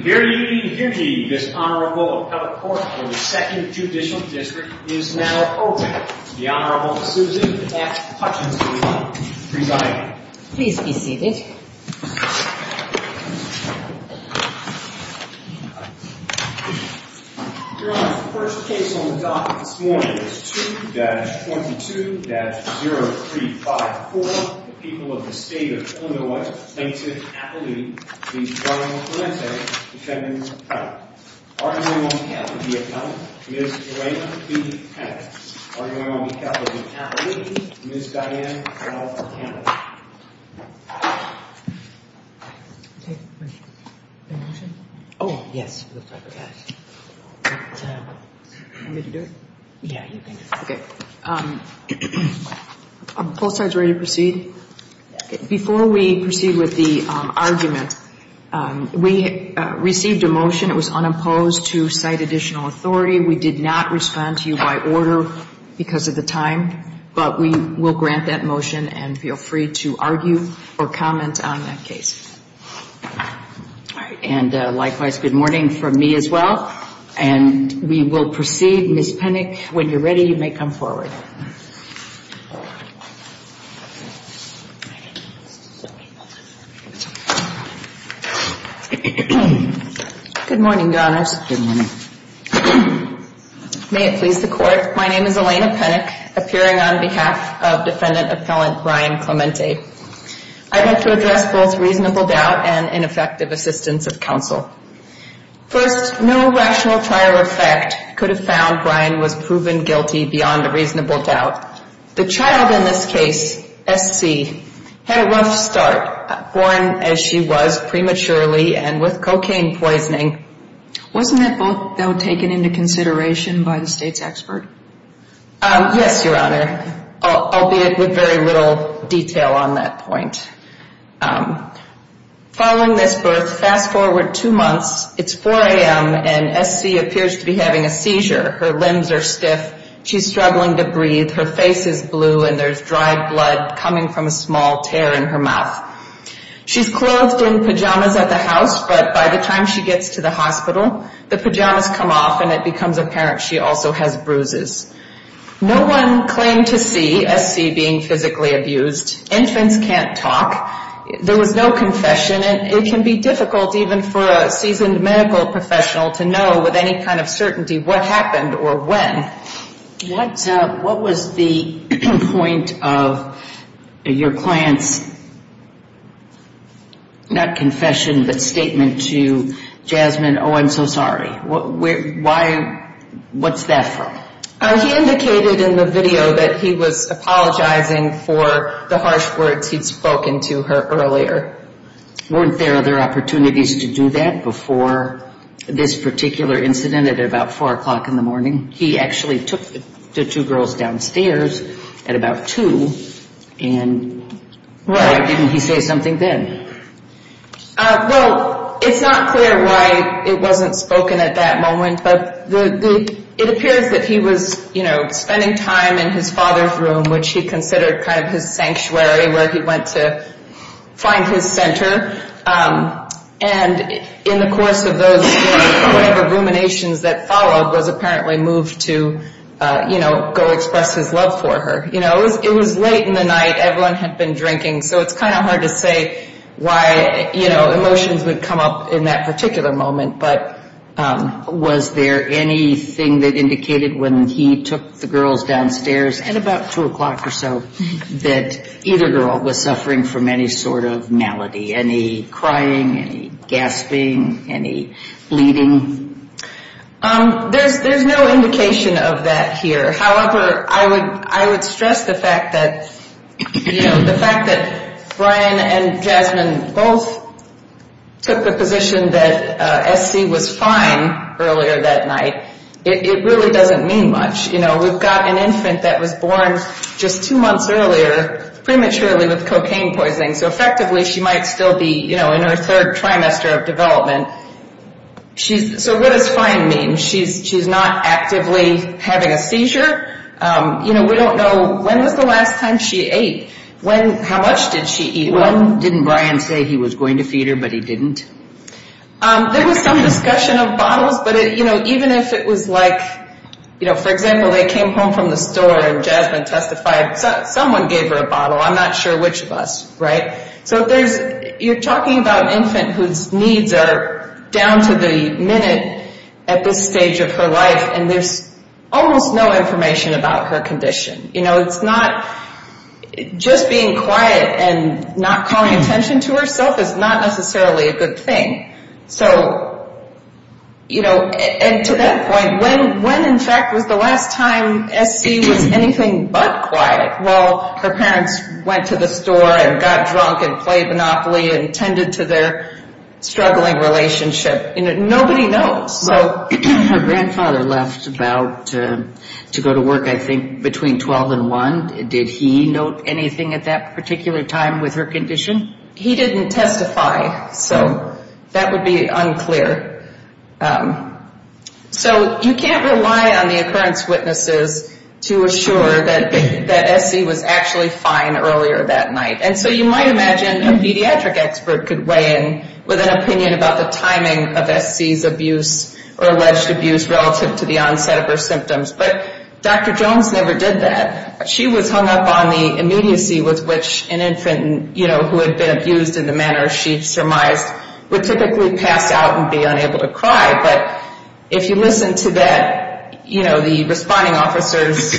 This Honorable Appellate Court for the 2nd Judicial District is now open. The Honorable Susan F. Hutchinson presiding. Please be seated. Your Honor, the first case on the docket this morning is 2-22-0354, the people of the state of Illinois plaintiff Appellee v. John Clemente defending her trial. Are you going on behalf of the appellate? Ms. Joanne B. Hennig Are you going on behalf of the appellate? Ms. Diane L. Hennig Are both sides ready to proceed? Before we proceed with the argument, we received a motion. It was unopposed to cite additional authority. We did not respond to you by order because of the time, but we will grant that motion and feel free to argue or comment on that case. And likewise, good morning from me as well. And we will proceed. Ms. Hennig, when you're ready, you may come forward. Good morning, Your Honors. Good morning. May it please the Court, my name is Elena Hennig, appearing on behalf of Defendant Appellant Brian Clemente. I'd like to address both reasonable doubt and ineffective assistance of counsel. First, no rational trial effect could have found Brian was proven guilty beyond a reasonable doubt. The child in this case, SC, had a rough start, born as she was, prematurely and with cocaine poisoning. Wasn't that vote, though, taken into consideration by the State's expert? Yes, Your Honor, albeit with very little detail on that point. Following this birth, fast forward two months, it's 4 a.m., and SC appears to be having a seizure. Her limbs are stiff, she's struggling to breathe, her face is blue, and there's dry blood coming from a small tear in her mouth. She's clothed in pajamas at the house, but by the time she gets to the hospital, the pajamas come off and it becomes apparent she also has bruises. No one claimed to see SC being physically abused. Infants can't talk. There was no confession, and it can be difficult even for a seasoned medical professional to know with any kind of certainty what happened or when. What was the point of your client's, not confession, but statement to Jasmine, oh, I'm so sorry, what's that for? He indicated in the video that he was apologizing for the harsh words he'd spoken to her earlier. Weren't there other opportunities to do that before this particular incident at about 4 o'clock in the morning? He actually took the two girls downstairs at about 2, and why didn't he say something then? Well, it's not clear why it wasn't spoken at that moment, but it appears that he was spending time in his father's room, which he considered kind of his sanctuary where he went to find his center, and in the course of those whatever ruminations that followed, was apparently moved to, you know, go express his love for her. You know, it was late in the night. Everyone had been drinking, so it's kind of hard to say why, you know, emotions would come up in that particular moment, but was there anything that indicated when he took the girls downstairs at about 2 o'clock or so that either girl was suffering from any sort of malady? Any crying, any gasping, any bleeding? There's no indication of that here. However, I would stress the fact that, you know, the fact that Brian and Jasmine both took the position that S.C. was fine earlier that night, it really doesn't mean much. You know, we've got an infant that was born just two months earlier prematurely with cocaine poisoning, so effectively she might still be, you know, in her third trimester of development. So what does fine mean? She's not actively having a seizure. You know, we don't know when was the last time she ate. How much did she eat? When didn't Brian say he was going to feed her, but he didn't? There was some discussion of bottles, but, you know, even if it was like, you know, for example, they came home from the store and Jasmine testified someone gave her a bottle. I'm not sure which of us, right? So you're talking about an infant whose needs are down to the minute at this stage of her life, and there's almost no information about her condition. You know, it's not just being quiet and not calling attention to herself is not necessarily a good thing. So, you know, and to that point, when in fact was the last time S.C. was anything but quiet? Well, her parents went to the store and got drunk and played Monopoly and tended to their struggling relationship. Nobody knows. So her grandfather left about to go to work, I think, between 12 and 1. Did he note anything at that particular time with her condition? He didn't testify, so that would be unclear. So you can't rely on the occurrence witnesses to assure that S.C. was actually fine earlier that night. And so you might imagine a pediatric expert could weigh in with an opinion about the timing of S.C.'s abuse or alleged abuse relative to the onset of her symptoms, but Dr. Jones never did that. She was hung up on the immediacy with which an infant, you know, who had been abused in the manner she surmised would typically pass out and be unable to cry. But if you listen to that, you know, the responding officer's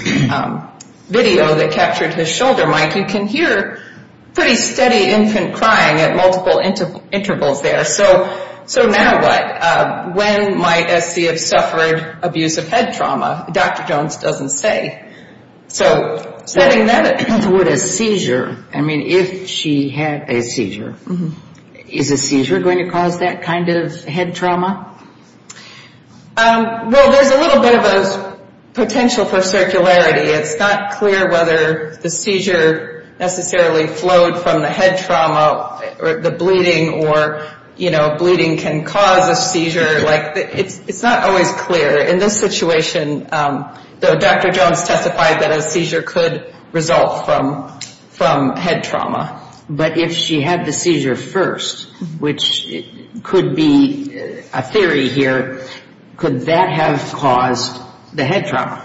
video that captured his shoulder, Mike, you can hear pretty steady infant crying at multiple intervals there. So now what? When might S.C. have suffered abusive head trauma? Dr. Jones doesn't say. So setting that up. With a seizure, I mean, if she had a seizure, is a seizure going to cause that kind of head trauma? Well, there's a little bit of a potential for circularity. It's not clear whether the seizure necessarily flowed from the head trauma or the bleeding or, you know, bleeding can cause a seizure. Like, it's not always clear. In this situation, though, Dr. Jones testified that a seizure could result from head trauma. But if she had the seizure first, which could be a theory here, could that have caused the head trauma?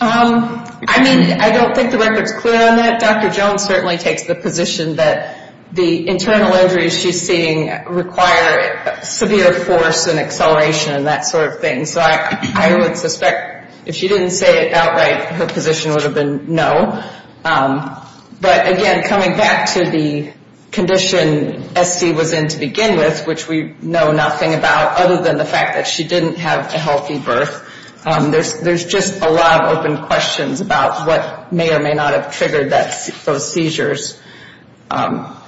I mean, I don't think the record's clear on that. Dr. Jones certainly takes the position that the internal injuries she's seeing require severe force and acceleration and that sort of thing. So I would suspect if she didn't say it outright, her position would have been no. But, again, coming back to the condition S.C. was in to begin with, which we know nothing about other than the fact that she didn't have a healthy birth, there's just a lot of open questions about what may or may not have triggered those seizures.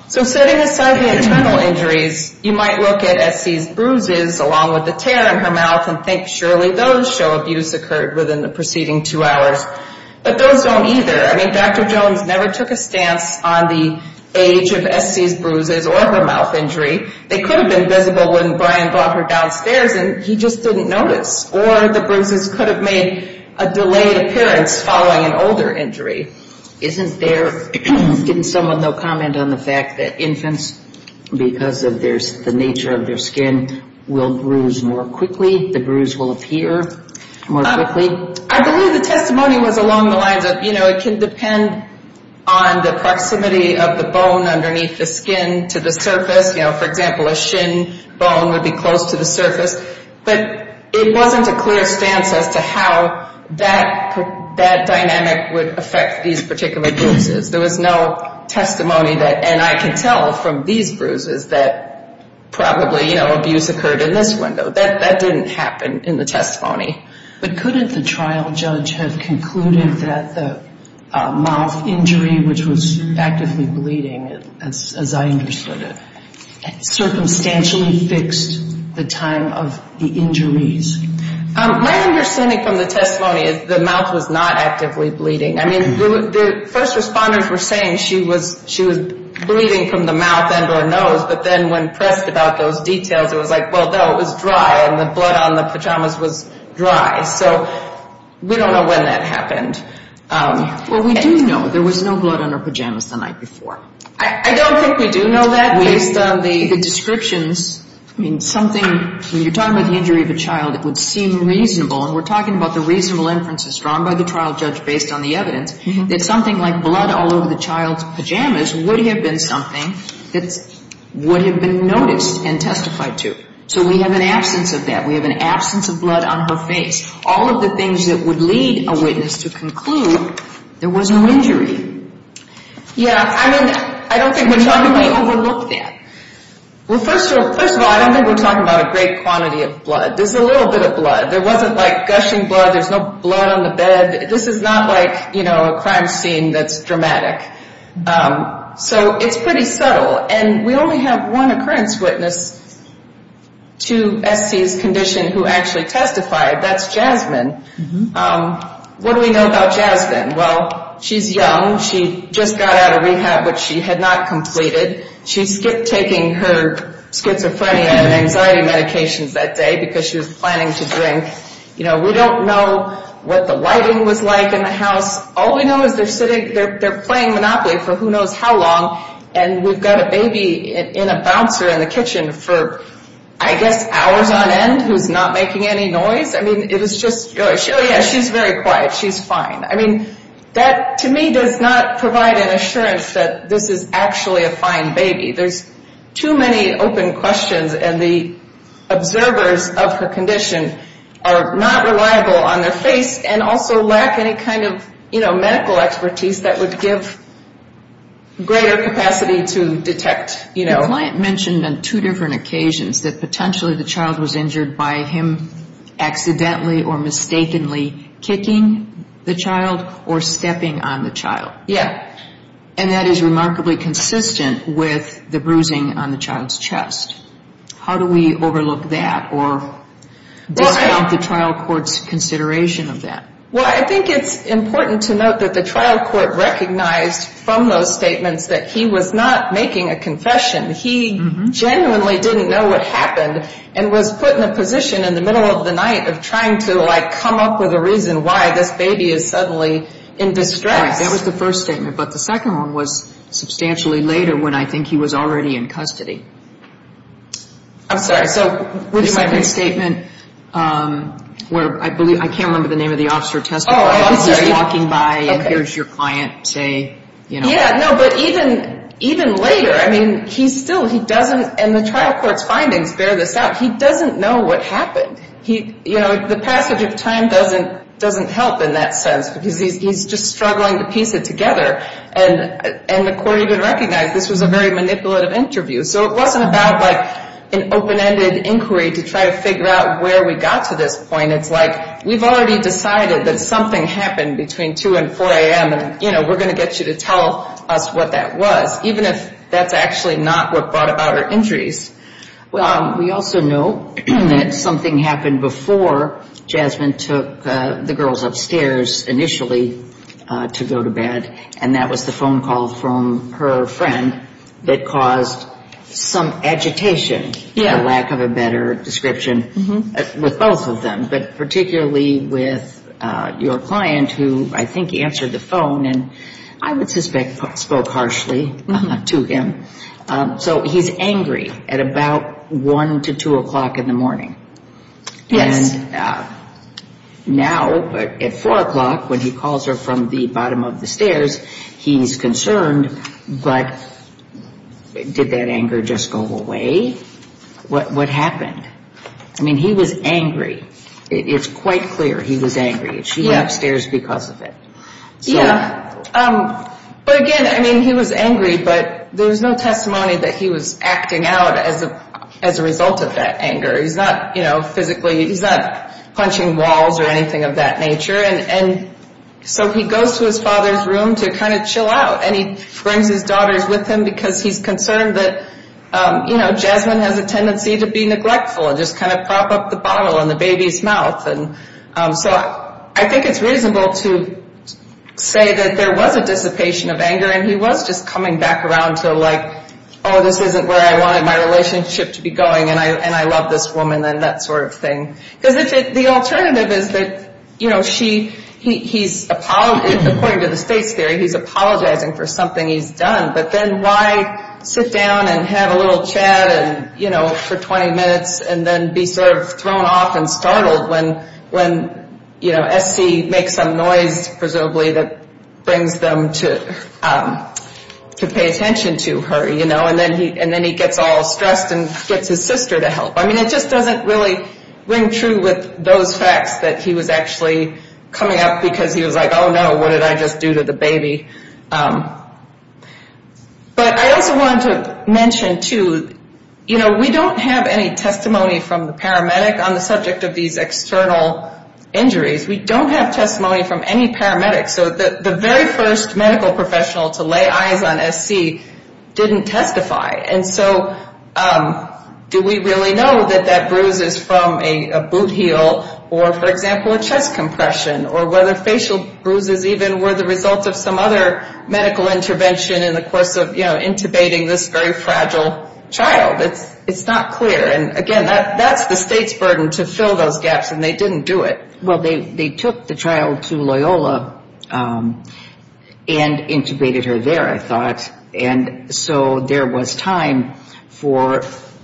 So setting aside the internal injuries, you might look at S.C.'s bruises along with the tear in her mouth and think surely those show abuse occurred within the preceding two hours. But those don't either. I mean, Dr. Jones never took a stance on the age of S.C.'s bruises or her mouth injury. They could have been visible when Brian brought her downstairs and he just didn't notice. Or the bruises could have made a delayed appearance following an older injury. Isn't there, can someone, though, comment on the fact that infants, because of the nature of their skin, will bruise more quickly, the bruise will appear more quickly? I believe the testimony was along the lines of, you know, it can depend on the proximity of the bone underneath the skin to the surface. You know, for example, a shin bone would be close to the surface. But it wasn't a clear stance as to how that dynamic would affect these particular bruises. There was no testimony that, and I can tell from these bruises that probably, you know, abuse occurred in this window. That didn't happen in the testimony. But couldn't the trial judge have concluded that the mouth injury, which was actively bleeding as I understood it, circumstantially fixed the time of the injuries? My understanding from the testimony is the mouth was not actively bleeding. I mean, the first responders were saying she was bleeding from the mouth and her nose. But then when pressed about those details, it was like, well, no, it was dry. And the blood on the pajamas was dry. So we don't know when that happened. Well, we do know there was no blood on her pajamas the night before. I don't think we do know that. Based on the descriptions, I mean, something, when you're talking about the injury of a child, it would seem reasonable, and we're talking about the reasonable inferences drawn by the trial judge based on the evidence, that something like blood all over the child's pajamas would have been something that would have been noticed and testified to. So we have an absence of that. We have an absence of blood on her face. All of the things that would lead a witness to conclude there was no injury. Yeah, I mean, I don't think we're talking about overlooking it. Well, first of all, I don't think we're talking about a great quantity of blood. There's a little bit of blood. There wasn't, like, gushing blood. There's no blood on the bed. This is not like, you know, a crime scene that's dramatic. So it's pretty subtle. And we only have one occurrence witness to SC's condition who actually testified. That's Jasmine. What do we know about Jasmine? Well, she's young. She just got out of rehab, which she had not completed. She skipped taking her schizophrenia and anxiety medications that day because she was planning to drink. You know, we don't know what the lighting was like in the house. All we know is they're sitting, they're playing Monopoly for who knows how long, and we've got a baby in a bouncer in the kitchen for, I guess, hours on end who's not making any noise. I mean, it is just, oh, yeah, she's very quiet. She's fine. I mean, that to me does not provide an assurance that this is actually a fine baby. There's too many open questions, and the observers of her condition are not reliable on their face and also lack any kind of, you know, medical expertise that would give greater capacity to detect, you know. The client mentioned on two different occasions that potentially the child was injured by him accidentally or mistakenly kicking the child or stepping on the child. Yeah. And that is remarkably consistent with the bruising on the child's chest. How do we overlook that or discount the trial court's consideration of that? Well, I think it's important to note that the trial court recognized from those statements that he was not making a confession. He genuinely didn't know what happened and was put in a position in the middle of the night of trying to, like, come up with a reason why this baby is suddenly in distress. Right. That was the first statement, but the second one was substantially later when I think he was already in custody. I'm sorry. So would you mind? The second statement where I can't remember the name of the officer testifying. Oh, I'm sorry. He's just walking by and here's your client say, you know. Yeah, no, but even later. I mean, he still doesn't, and the trial court's findings bear this out, he doesn't know what happened. You know, the passage of time doesn't help in that sense because he's just struggling to piece it together. And the court even recognized this was a very manipulative interview. So it wasn't about, like, an open-ended inquiry to try to figure out where we got to this point. It's like we've already decided that something happened between 2 and 4 a.m. and, you know, we're going to get you to tell us what that was, even if that's actually not what brought about her injuries. Well, we also know that something happened before Jasmine took the girls upstairs initially to go to bed, and that was the phone call from her friend that caused some agitation, for lack of a better description, with both of them, but particularly with your client who I think answered the phone, and I would suspect spoke harshly to him. So he's angry at about 1 to 2 o'clock in the morning. And now at 4 o'clock when he calls her from the bottom of the stairs, he's concerned, but did that anger just go away? What happened? I mean, he was angry. It's quite clear he was angry. She went upstairs because of it. Yeah, but again, I mean, he was angry, but there was no testimony that he was acting out as a result of that anger. He's not, you know, physically, he's not punching walls or anything of that nature. And so he goes to his father's room to kind of chill out, and he brings his daughters with him because he's concerned that, you know, Jasmine has a tendency to be neglectful and just kind of prop up the bottle in the baby's mouth. So I think it's reasonable to say that there was a dissipation of anger, and he was just coming back around to, like, oh, this isn't where I wanted my relationship to be going, and I love this woman and that sort of thing. Because the alternative is that, you know, she, he's, according to the states theory, he's apologizing for something he's done, but then why sit down and have a little chat for 20 minutes and then be sort of thrown off and startled when, you know, S.C. makes some noise, presumably, that brings them to pay attention to her, you know, and then he gets all stressed and gets his sister to help. I mean, it just doesn't really ring true with those facts that he was actually coming up because he was like, oh, no, what did I just do to the baby? But I also wanted to mention, too, you know, we don't have any testimony from the paramedic on the subject of these external injuries. We don't have testimony from any paramedics. So the very first medical professional to lay eyes on S.C. didn't testify. And so do we really know that that bruise is from a boot heel or, for example, a chest compression or whether facial bruises even were the result of some other medical intervention in the course of, you know, intubating this very fragile child? It's not clear. And, again, that's the state's burden to fill those gaps, and they didn't do it. Well, they took the child to Loyola and intubated her there, I thought. And so there was time for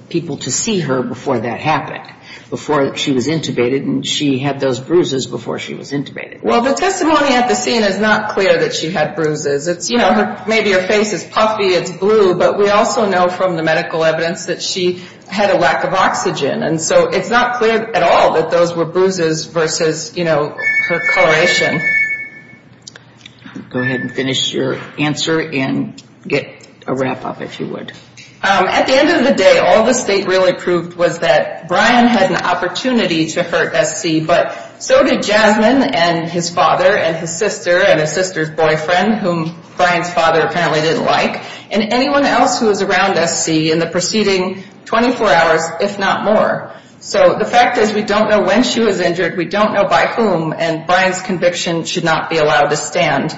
people to see her before that happened, before she was intubated, and she had those bruises before she was intubated. Well, the testimony at the scene is not clear that she had bruises. It's, you know, maybe her face is puffy, it's blue, but we also know from the medical evidence that she had a lack of oxygen. And so it's not clear at all that those were bruises versus, you know, her coloration. Go ahead and finish your answer and get a wrap-up, if you would. At the end of the day, all the state really proved was that Brian had an opportunity to hurt S.C., but so did Jasmine and his father and his sister and his sister's boyfriend, whom Brian's father apparently didn't like, and anyone else who was around S.C. in the preceding 24 hours, if not more. So the fact is we don't know when she was injured, we don't know by whom, and Brian's conviction should not be allowed to stand.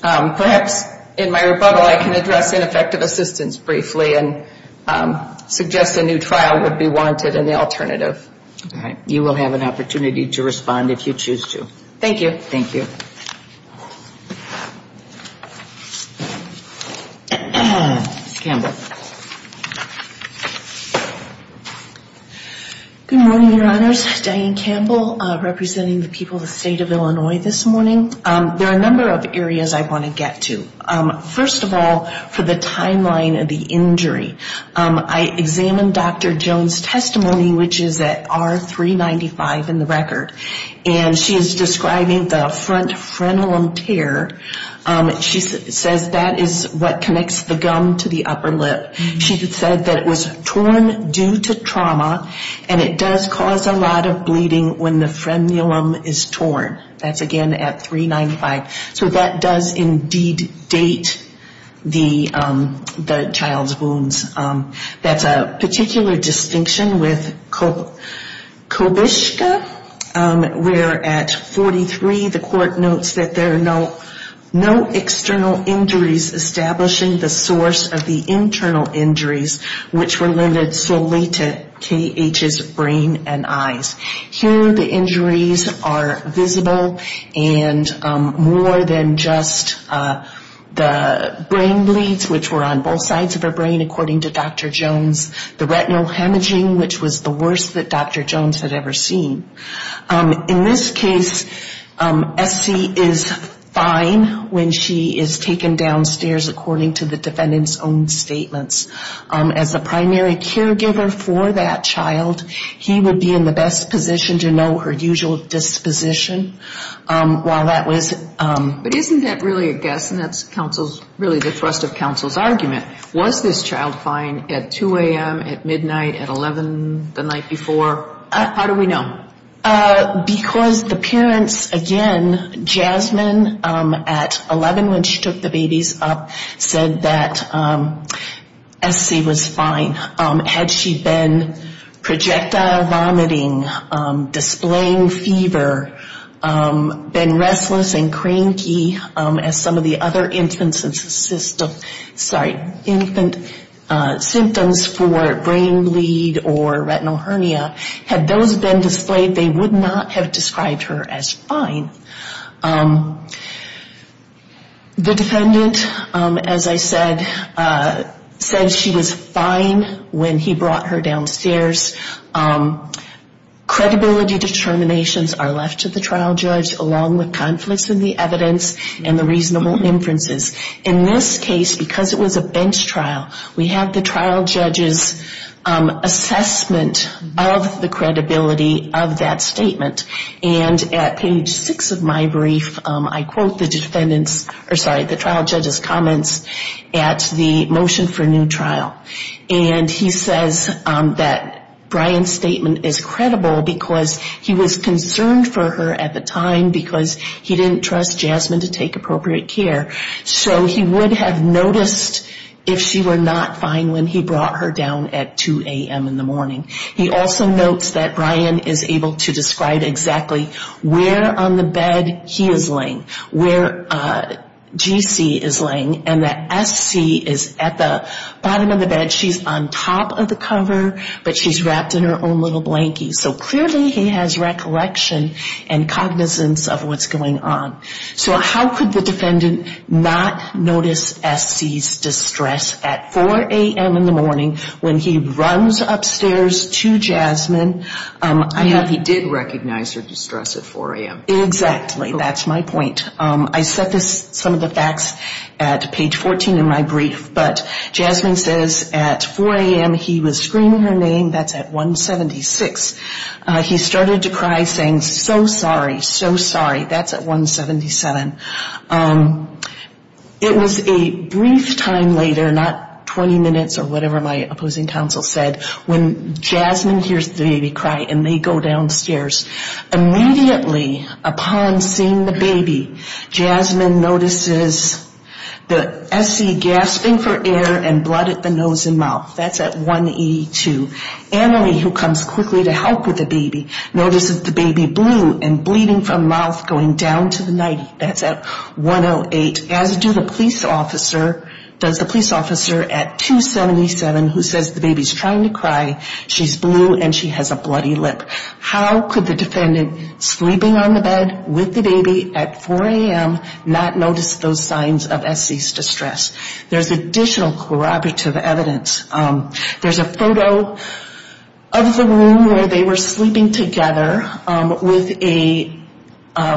Perhaps in my rebuttal I can address ineffective assistance briefly and suggest a new trial would be wanted and the alternative. All right. You will have an opportunity to respond if you choose to. Thank you. Thank you. Ms. Campbell. Good morning, Your Honors. Diane Campbell representing the people of the state of Illinois this morning. There are a number of areas I want to get to. First of all, for the timeline of the injury, I examined Dr. Jones' testimony, which is at R395 in the record, and she is describing the front frenulum tear. She says that is what connects the gum to the upper lip. She said that it was torn due to trauma, and it does cause a lot of bleeding when the frenulum is torn. That's, again, at 395. So that does indeed date the child's wounds. That's a particular distinction with Kobishka, where at 43, the court notes that there are no external injuries establishing the source of the internal injuries, which were limited solely to K.H.'s brain and eyes. Here the injuries are visible, and more than just the brain bleeds, which were on both sides of her brain, according to Dr. Jones, the retinal hemorrhaging, which was the worst that Dr. Jones had ever seen. In this case, Essie is fine when she is taken downstairs, according to the defendant's own statements. As a primary caregiver for that child, he would be in the best position to know her usual disposition while that was... But isn't that really a guess, and that's counsel's, really the thrust of counsel's argument? Was this child fine at 2 a.m., at midnight, at 11 the night before? How do we know? Because the parents, again, Jasmine, at 11 when she took the babies up, said that Essie was fine. Had she been projectile vomiting, displaying fever, been restless and cranky, as some of the other infant symptoms for brain bleed or retinal hernia, had those been displayed, they would not have described her as fine. The defendant, as I said, said she was fine when he brought her downstairs. Credibility determinations are left to the trial judge, along with conflicts in the evidence and the reasonable inferences. In this case, because it was a bench trial, we had the trial judge's assessment of the credibility of that statement. And at page 6 of my brief, I quote the trial judge's comments at the motion for new trial. And he says that Brian's statement is credible because he was concerned for her at the time because he didn't trust Jasmine to take appropriate care. So he would have noticed if she were not fine when he brought her down at 2 a.m. in the morning. He also notes that Brian is able to describe exactly where on the bed he is laying, where GC is laying, and that Essie is at the bottom of the bed. She's on top of the cover, but she's wrapped in her own little blankie. So clearly he has recollection and cognizance of what's going on. So how could the defendant not notice Essie's distress at 4 a.m. in the morning when he runs upstairs to Jasmine? He did recognize her distress at 4 a.m. Exactly. That's my point. I set some of the facts at page 14 in my brief. But Jasmine says at 4 a.m. he was screaming her name. That's at 176. He started to cry, saying, so sorry, so sorry. That's at 177. It was a brief time later, not 20 minutes or whatever my opposing counsel said, when Jasmine hears the baby cry and they go downstairs. Immediately upon seeing the baby, Jasmine notices the Essie gasping for air and blood at the nose and mouth. That's at 182. Emily, who comes quickly to help with the baby, notices the baby blue and bleeding from mouth going down to the 90. That's at 108. As do the police officer at 277, who says the baby's trying to cry. She's blue and she has a bloody lip. How could the defendant, sleeping on the bed with the baby at 4 a.m., not notice those signs of Essie's distress? There's additional corroborative evidence. There's a photo of the room where they were sleeping together with a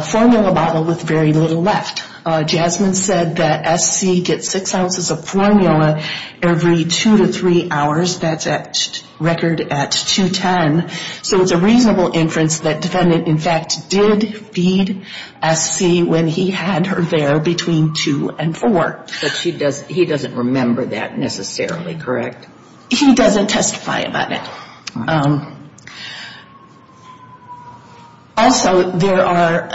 formula bottle with very little left. Jasmine said that Essie gets six ounces of formula every two to three hours. That's a record at 210. So it's a reasonable inference that defendant, in fact, did feed Essie when he had her there between 2 and 4. But he doesn't remember that necessarily, correct? He doesn't testify about it. Also, there are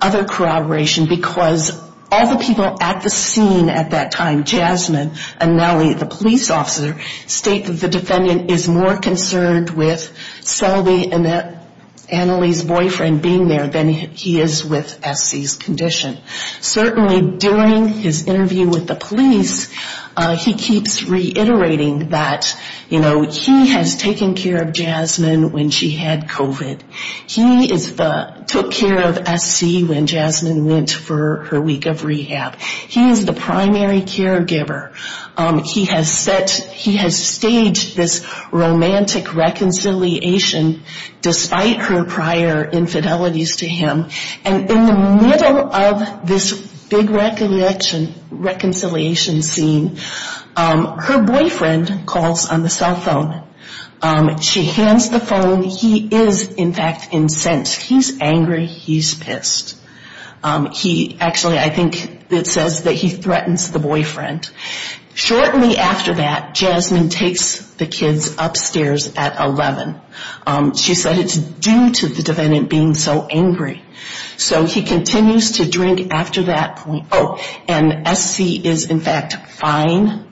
other corroborations because all the people at the scene at that time, Jasmine and Nellie, the police officer, state that the defendant is more concerned with Selby and Annalee's boyfriend being there than he is with Essie's condition. Certainly during his interview with the police, he keeps reiterating that he has taken care of Jasmine when she had COVID. He took care of Essie when Jasmine went for her week of rehab. He is the primary caregiver. He has staged this romantic reconciliation despite her prior infidelities to him. And in the middle of this big reconciliation scene, her boyfriend calls on the cell phone. She hands the phone. He is, in fact, incensed. He's angry. He's pissed. Actually, I think it says that he threatens the boyfriend. Shortly after that, Jasmine takes the kids upstairs at 11. She said it's due to the defendant being so angry. So he continues to drink after that point. Oh, and Essie is, in fact, fine.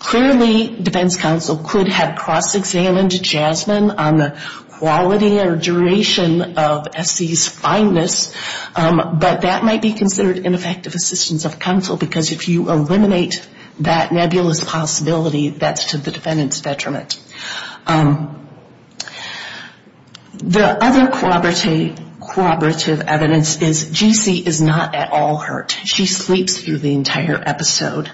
Clearly, defense counsel could have cross-examined Jasmine on the quality or duration of Essie's fineness, but that might be considered ineffective assistance of counsel because if you eliminate that nebulous possibility, that's to the defendant's detriment. The other corroborative evidence is G.C. is not at all hurt. She sleeps through the entire episode.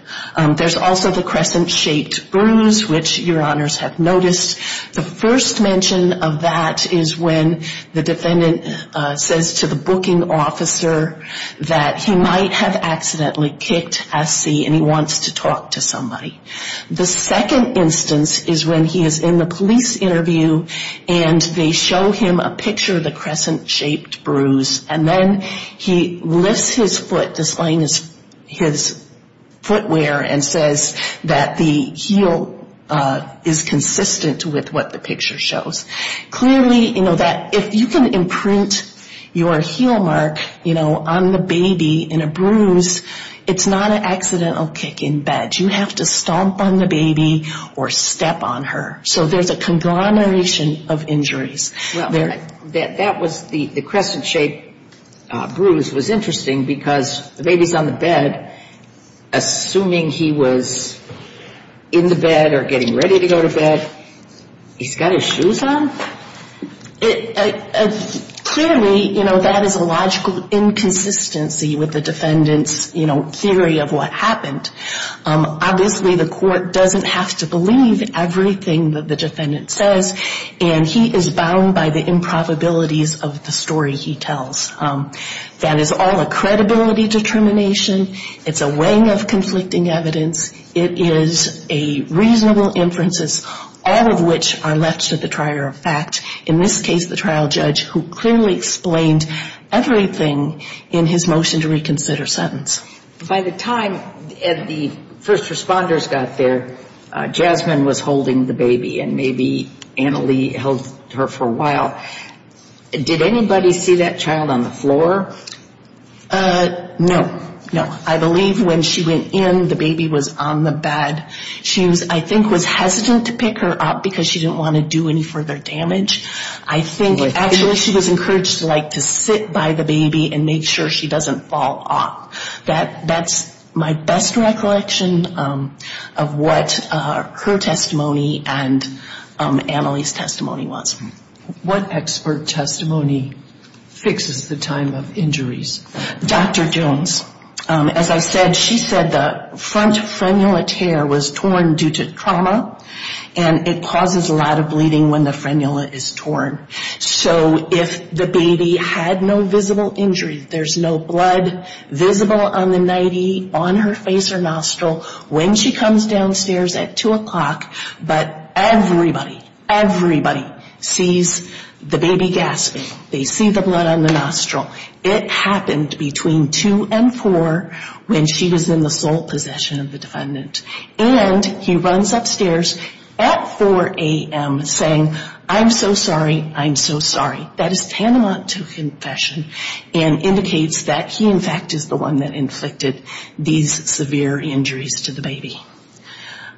There's also the crescent-shaped bruise, which your honors have noticed. The first mention of that is when the defendant says to the booking officer that he might have accidentally kicked Essie and he wants to talk to somebody. The second instance is when he is in the police interview and they show him a picture of the crescent-shaped bruise, and then he lifts his foot, displaying his footwear, and says that the heel is consistent with what the picture shows. Clearly, you know, that if you can imprint your heel mark, you know, on the baby in a bruise, it's not an accidental kick in bed. You have to stomp on the baby or step on her. So there's a conglomeration of injuries there. Well, that was the crescent-shaped bruise was interesting because the baby's on the bed. Assuming he was in the bed or getting ready to go to bed, he's got his shoes on? Clearly, you know, that is a logical inconsistency with the defendant's, you know, theory of what happened. Obviously, the court doesn't have to believe everything that the defendant says, and he is bound by the improbabilities of the story he tells. That is all a credibility determination. It's a weighing of conflicting evidence. It is a reasonable inferences, all of which are left to the trier of fact. In this case, the trial judge, who clearly explained everything in his motion to reconsider sentence. By the time the first responders got there, Jasmine was holding the baby, and maybe Annalee held her for a while. Did anybody see that child on the floor? No, no. I believe when she went in, the baby was on the bed. She was, I think, was hesitant to pick her up because she didn't want to do any further damage. I think actually she was encouraged to like to sit by the baby and make sure she doesn't fall off. That's my best recollection of what her testimony and Annalee's testimony was. What expert testimony fixes the time of injuries? Dr. Jones. As I said, she said the front frenula tear was torn due to trauma, and it causes a lot of bleeding when the frenula is torn. So if the baby had no visible injury, there's no blood visible on the nightie, on her face or nostril, when she comes downstairs at 2 o'clock, but everybody, everybody sees the baby gasping. They see the blood on the nostril. It happened between 2 and 4 when she was in the sole possession of the defendant. And he runs upstairs at 4 a.m. saying, I'm so sorry, I'm so sorry. That is tantamount to confession and indicates that he in fact is the one that inflicted these severe injuries to the baby.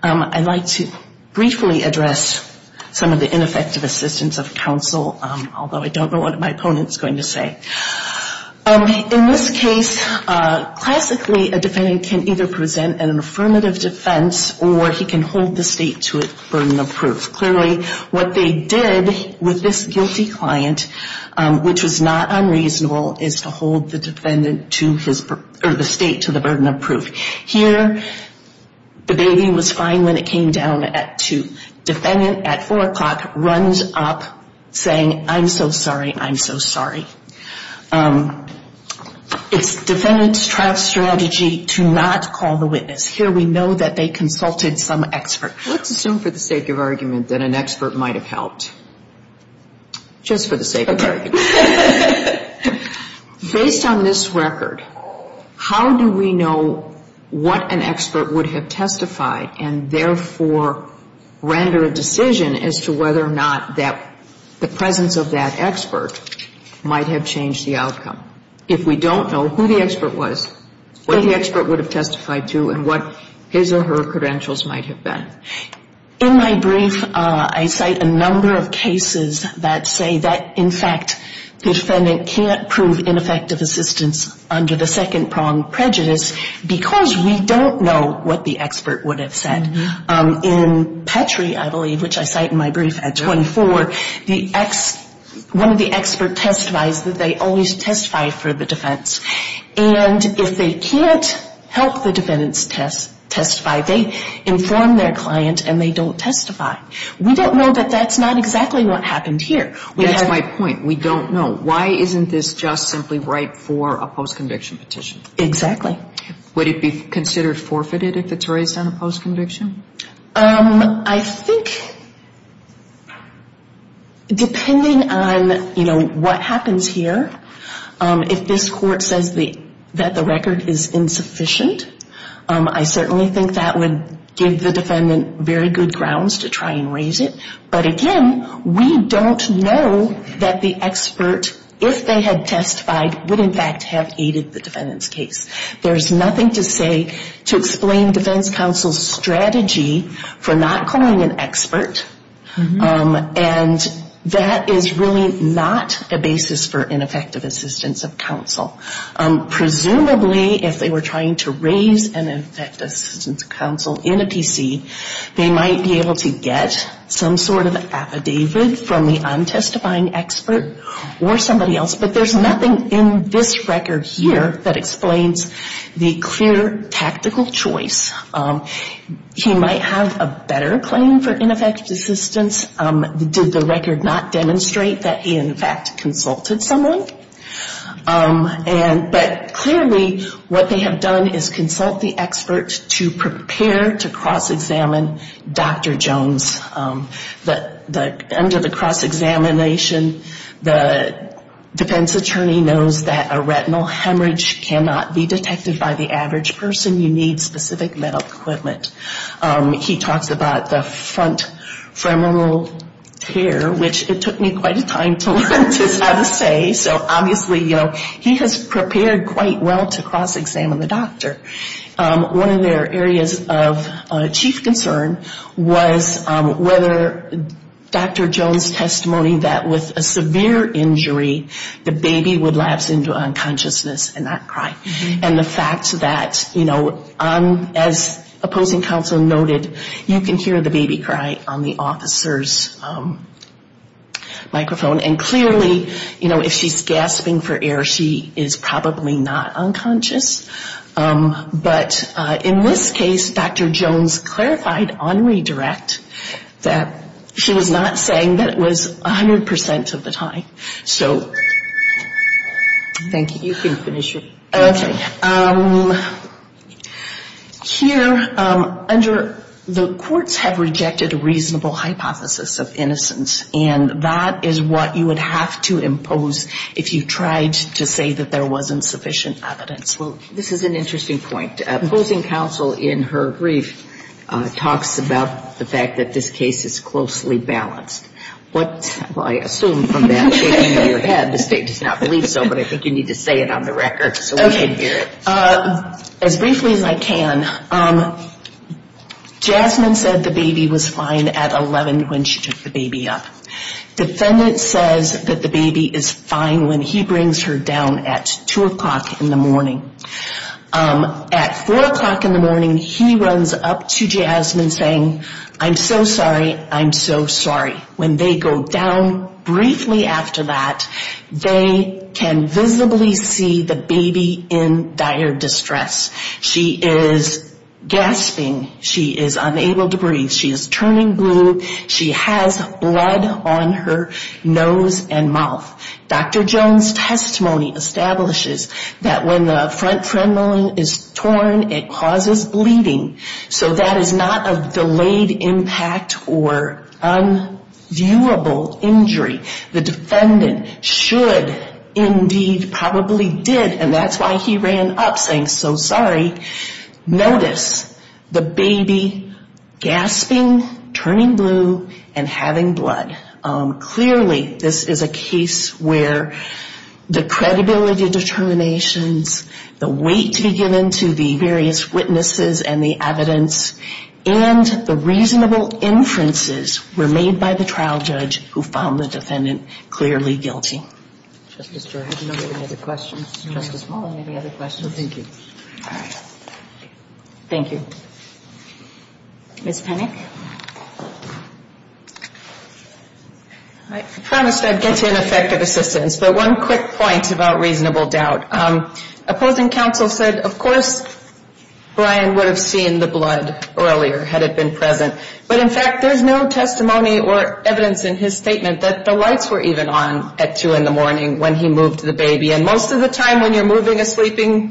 I'd like to briefly address some of the ineffective assistance of counsel, although I don't know what my opponent is going to say. In this case, classically, a defendant can either present an affirmative defense or he can hold the state to a burden of proof. Clearly, what they did with this guilty client, which was not unreasonable, is to hold the state to the burden of proof. Here, the baby was fine when it came down at 2. Defendant at 4 o'clock runs up saying, I'm so sorry, I'm so sorry. It's defendant's trial strategy to not call the witness. Here we know that they consulted some expert. Let's assume for the sake of argument that an expert might have helped. Just for the sake of argument. Based on this record, how do we know what an expert would have testified and therefore render a decision as to whether or not the presence of that expert might have changed the outcome? If we don't know who the expert was, what the expert would have testified to and what his or her credentials might have been. In my brief, I cite a number of cases that say that, in fact, the defendant can't prove ineffective assistance under the second prong, prejudice, because we don't know what the expert would have said. In Petrie, I believe, which I cite in my brief at 24, one of the experts testifies that they always testify for the defense. And if they can't help the defendants testify, they inform their client and they don't testify. We don't know that that's not exactly what happened here. That's my point. We don't know. Why isn't this just simply right for a post-conviction petition? Exactly. Would it be considered forfeited if it's raised on a post-conviction? I think, depending on, you know, what happens here, if this court says that the record is insufficient, I certainly think that would give the defendant very good grounds to try and raise it. But again, we don't know that the expert, if they had testified, would in fact have aided the defendant's case. There's nothing to say to explain defense counsel's strategy for not calling an expert. And that is really not a basis for ineffective assistance of counsel. Presumably, if they were trying to raise an ineffective assistance of counsel in a PC, they might be able to get some sort of affidavit from the untestifying expert or somebody else. But there's nothing in this record here that explains the clear tactical choice. He might have a better claim for ineffective assistance. Did the record not demonstrate that he in fact consulted someone? But clearly, what they have done is consult the expert to prepare to cross-examine Dr. Jones. Under the cross-examination, the defense attorney knows that a retinal hemorrhage cannot be detected by the average person. You need specific medical equipment. He talks about the front femoral tear, which it took me quite a time to learn how to say. So obviously, you know, he has prepared quite well to cross-examine the doctor. One of their areas of chief concern was whether Dr. Jones' testimony that with a severe injury, the baby would lapse into unconsciousness and not cry. And the fact that, you know, as opposing counsel noted, you can hear the baby cry on the officer's microphone. And clearly, you know, if she's gasping for air, she is probably not unconscious. But in this case, Dr. Jones clarified on redirect that she was not saying that it was 100% of the time. So... Thank you. You can finish your... Okay. Here, under the courts have rejected a reasonable hypothesis of innocence. And that is what you would have to impose if you tried to say that there wasn't sufficient evidence. Well, this is an interesting point. Opposing counsel in her brief talks about the fact that this case is closely balanced. What, well, I assume from that statement in your head, the state does not believe so, but I think you need to say it on the record so we can hear it. As briefly as I can, Jasmine said the baby was fine at 11 when she took the baby up. Defendant says that the baby is fine when he brings her down at 2 o'clock in the morning. At 4 o'clock in the morning, he runs up to Jasmine saying, I'm so sorry, I'm so sorry. When they go down briefly after that, they can visibly see the baby in dire distress. She is gasping. She is unable to breathe. She is turning blue. She has blood on her nose and mouth. Dr. Jones' testimony establishes that when the front femoral is torn, it causes bleeding. So that is not a delayed impact or unviewable injury. The defendant should indeed probably did, and that's why he ran up saying, so sorry. Notice the baby gasping, turning blue, and having blood. Clearly, this is a case where the credibility determinations, the weight to be given to the various witnesses and the evidence, and the reasonable inferences were made by the trial judge who found the defendant clearly guilty. Any other questions? Thank you. Thank you. Ms. Penick. I promised I'd get to ineffective assistance, but one quick point about reasonable doubt. Opposing counsel said, of course, Brian would have seen the blood earlier had it been present. But, in fact, there's no testimony or evidence in his statement that the lights were even on at 2 in the morning when he moved the baby. And most of the time when you're moving a sleeping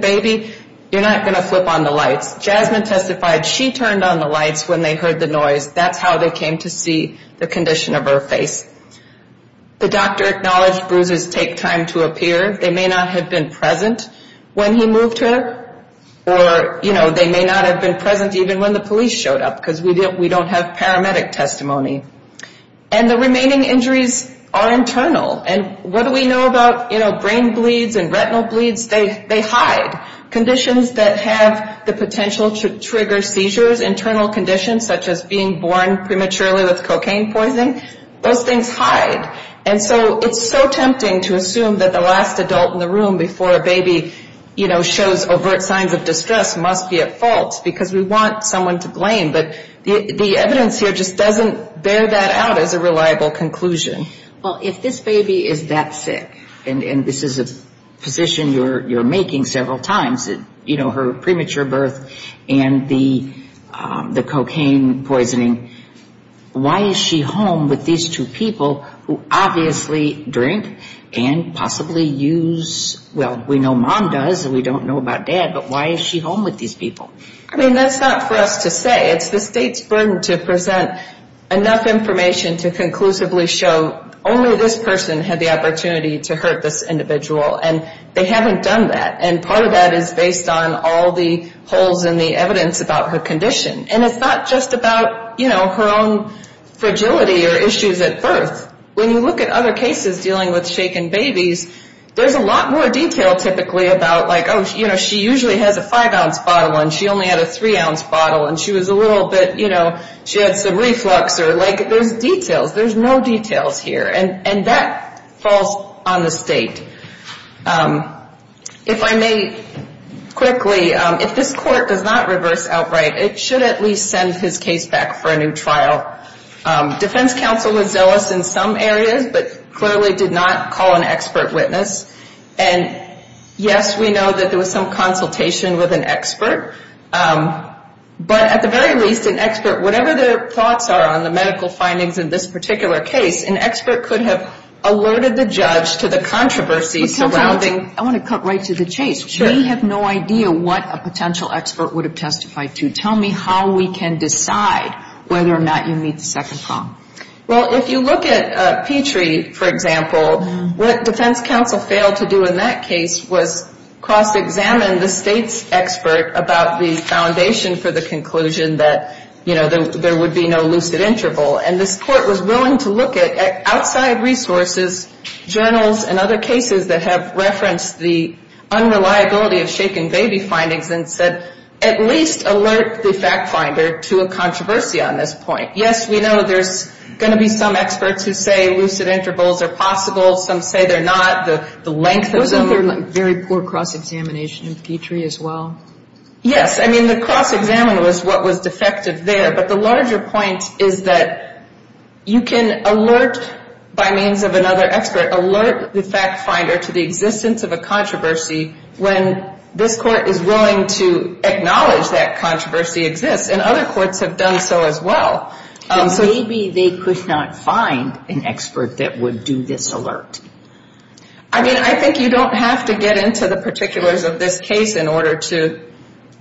baby, you're not going to flip on the lights. Jasmine testified she turned on the lights when they heard the noise. That's how they came to see the condition of her face. The doctor acknowledged bruises take time to appear. They may not have been present when he moved her, or they may not have been present even when the police showed up because we don't have paramedic testimony. And the remaining injuries are internal. And what do we know about, you know, brain bleeds and retinal bleeds? They hide. Conditions that have the potential to trigger seizures, internal conditions such as being born prematurely with cocaine poisoning, those things hide. And so it's so tempting to assume that the last adult in the room before a baby, you know, shows overt signs of distress must be at fault because we want someone to blame. But the evidence here just doesn't bear that out as a reliable conclusion. Well, if this baby is that sick, and this is a position you're making several times, you know, her premature birth and the cocaine poisoning, why is she home with these two people who obviously drink and possibly use, well, we know mom does and we don't know about dad, but why is she home with these people? I mean, that's not for us to say. It's the state's burden to present enough information to conclusively show only this person had the opportunity to hurt this individual. And they haven't done that. And part of that is based on all the holes in the evidence about her condition. And it's not just about, you know, her own fragility or issues at birth. When you look at other cases dealing with shaken babies, there's a lot more detail typically about, like, she only had a three-ounce bottle and she was a little bit, you know, she had some reflux or, like, there's details. There's no details here. And that falls on the state. If I may quickly, if this court does not reverse outright, it should at least send his case back for a new trial. Defense counsel was zealous in some areas, but clearly did not call an expert witness. And, yes, we know that there was some consultation with an expert. But at the very least, an expert, whatever their thoughts are on the medical findings in this particular case, an expert could have alerted the judge to the controversy surrounding. I want to cut right to the chase. We have no idea what a potential expert would have testified to. Tell me how we can decide whether or not you meet the second problem. Well, if you look at Petrie, for example, what defense counsel failed to do in that case was cross-examine the state's expert about the foundation for the conclusion that, you know, there would be no lucid interval. And this court was willing to look at outside resources, journals and other cases that have referenced the unreliability of shaken baby findings and said at least alert the fact finder to a controversy on this point. Yes, we know there's going to be some experts who say lucid intervals are possible and some say they're not. The length of the... Wasn't there very poor cross-examination in Petrie as well? Yes. I mean, the cross-examiner was what was defective there. But the larger point is that you can alert by means of another expert, alert the fact finder to the existence of a controversy when this court is willing to acknowledge that controversy exists. And other courts have done so as well. Maybe they could not find an expert that would do this alert. I mean, I think you don't have to get into the particulars of this case in order to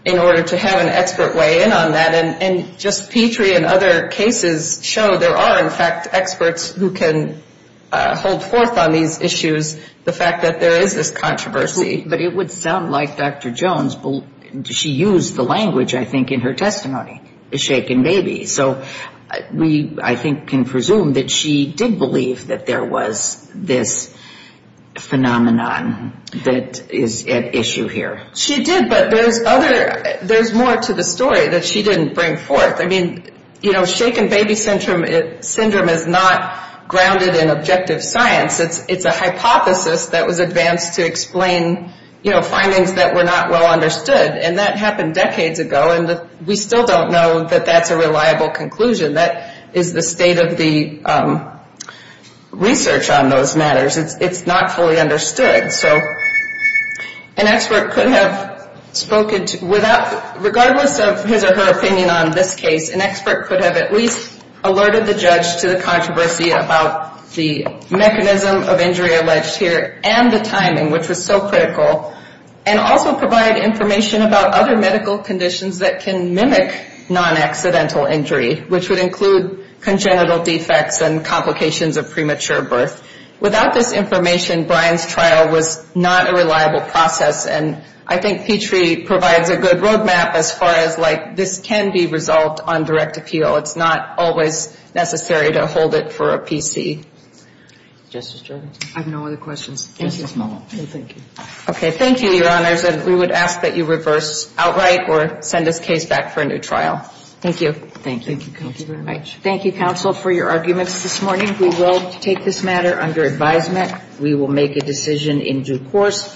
have an expert weigh in on that. And just Petrie and other cases show there are, in fact, experts who can hold forth on these issues, the fact that there is this controversy. But it would sound like Dr. Jones, she used the language, I think, in her testimony, shaken baby. So we, I think, can presume that she did believe that there was this phenomenon that is at issue here. She did, but there's other, there's more to the story that she didn't bring forth. I mean, you know, shaken baby syndrome is not grounded in objective science. It's a hypothesis that was advanced to explain, you know, findings that were not well understood. And that happened decades ago, and we still don't know that that's a reliable conclusion. That is the state of the research on those matters. It's not fully understood. So an expert could have spoken, regardless of his or her opinion on this case, an expert could have at least alerted the judge to the controversy about the mechanism of injury alleged here and the timing, which was so critical, and also provide information about other medical conditions that can mimic non-accidental injury, which would include congenital defects and complications of premature birth. Without this information, Brian's trial was not a reliable process, and I think Petrie provides a good roadmap as far as, like, this can be resolved on direct appeal. It's not always necessary to hold it for a PC. Justice Gergen? I have no other questions. Thank you. Thank you. Okay. Thank you, Your Honors, and we would ask that you reverse outright or send this case back for a new trial. Thank you. Thank you. Thank you, Counsel. Thank you, Counsel, for your arguments this morning. We will take this matter under advisement. We will make a decision in due course.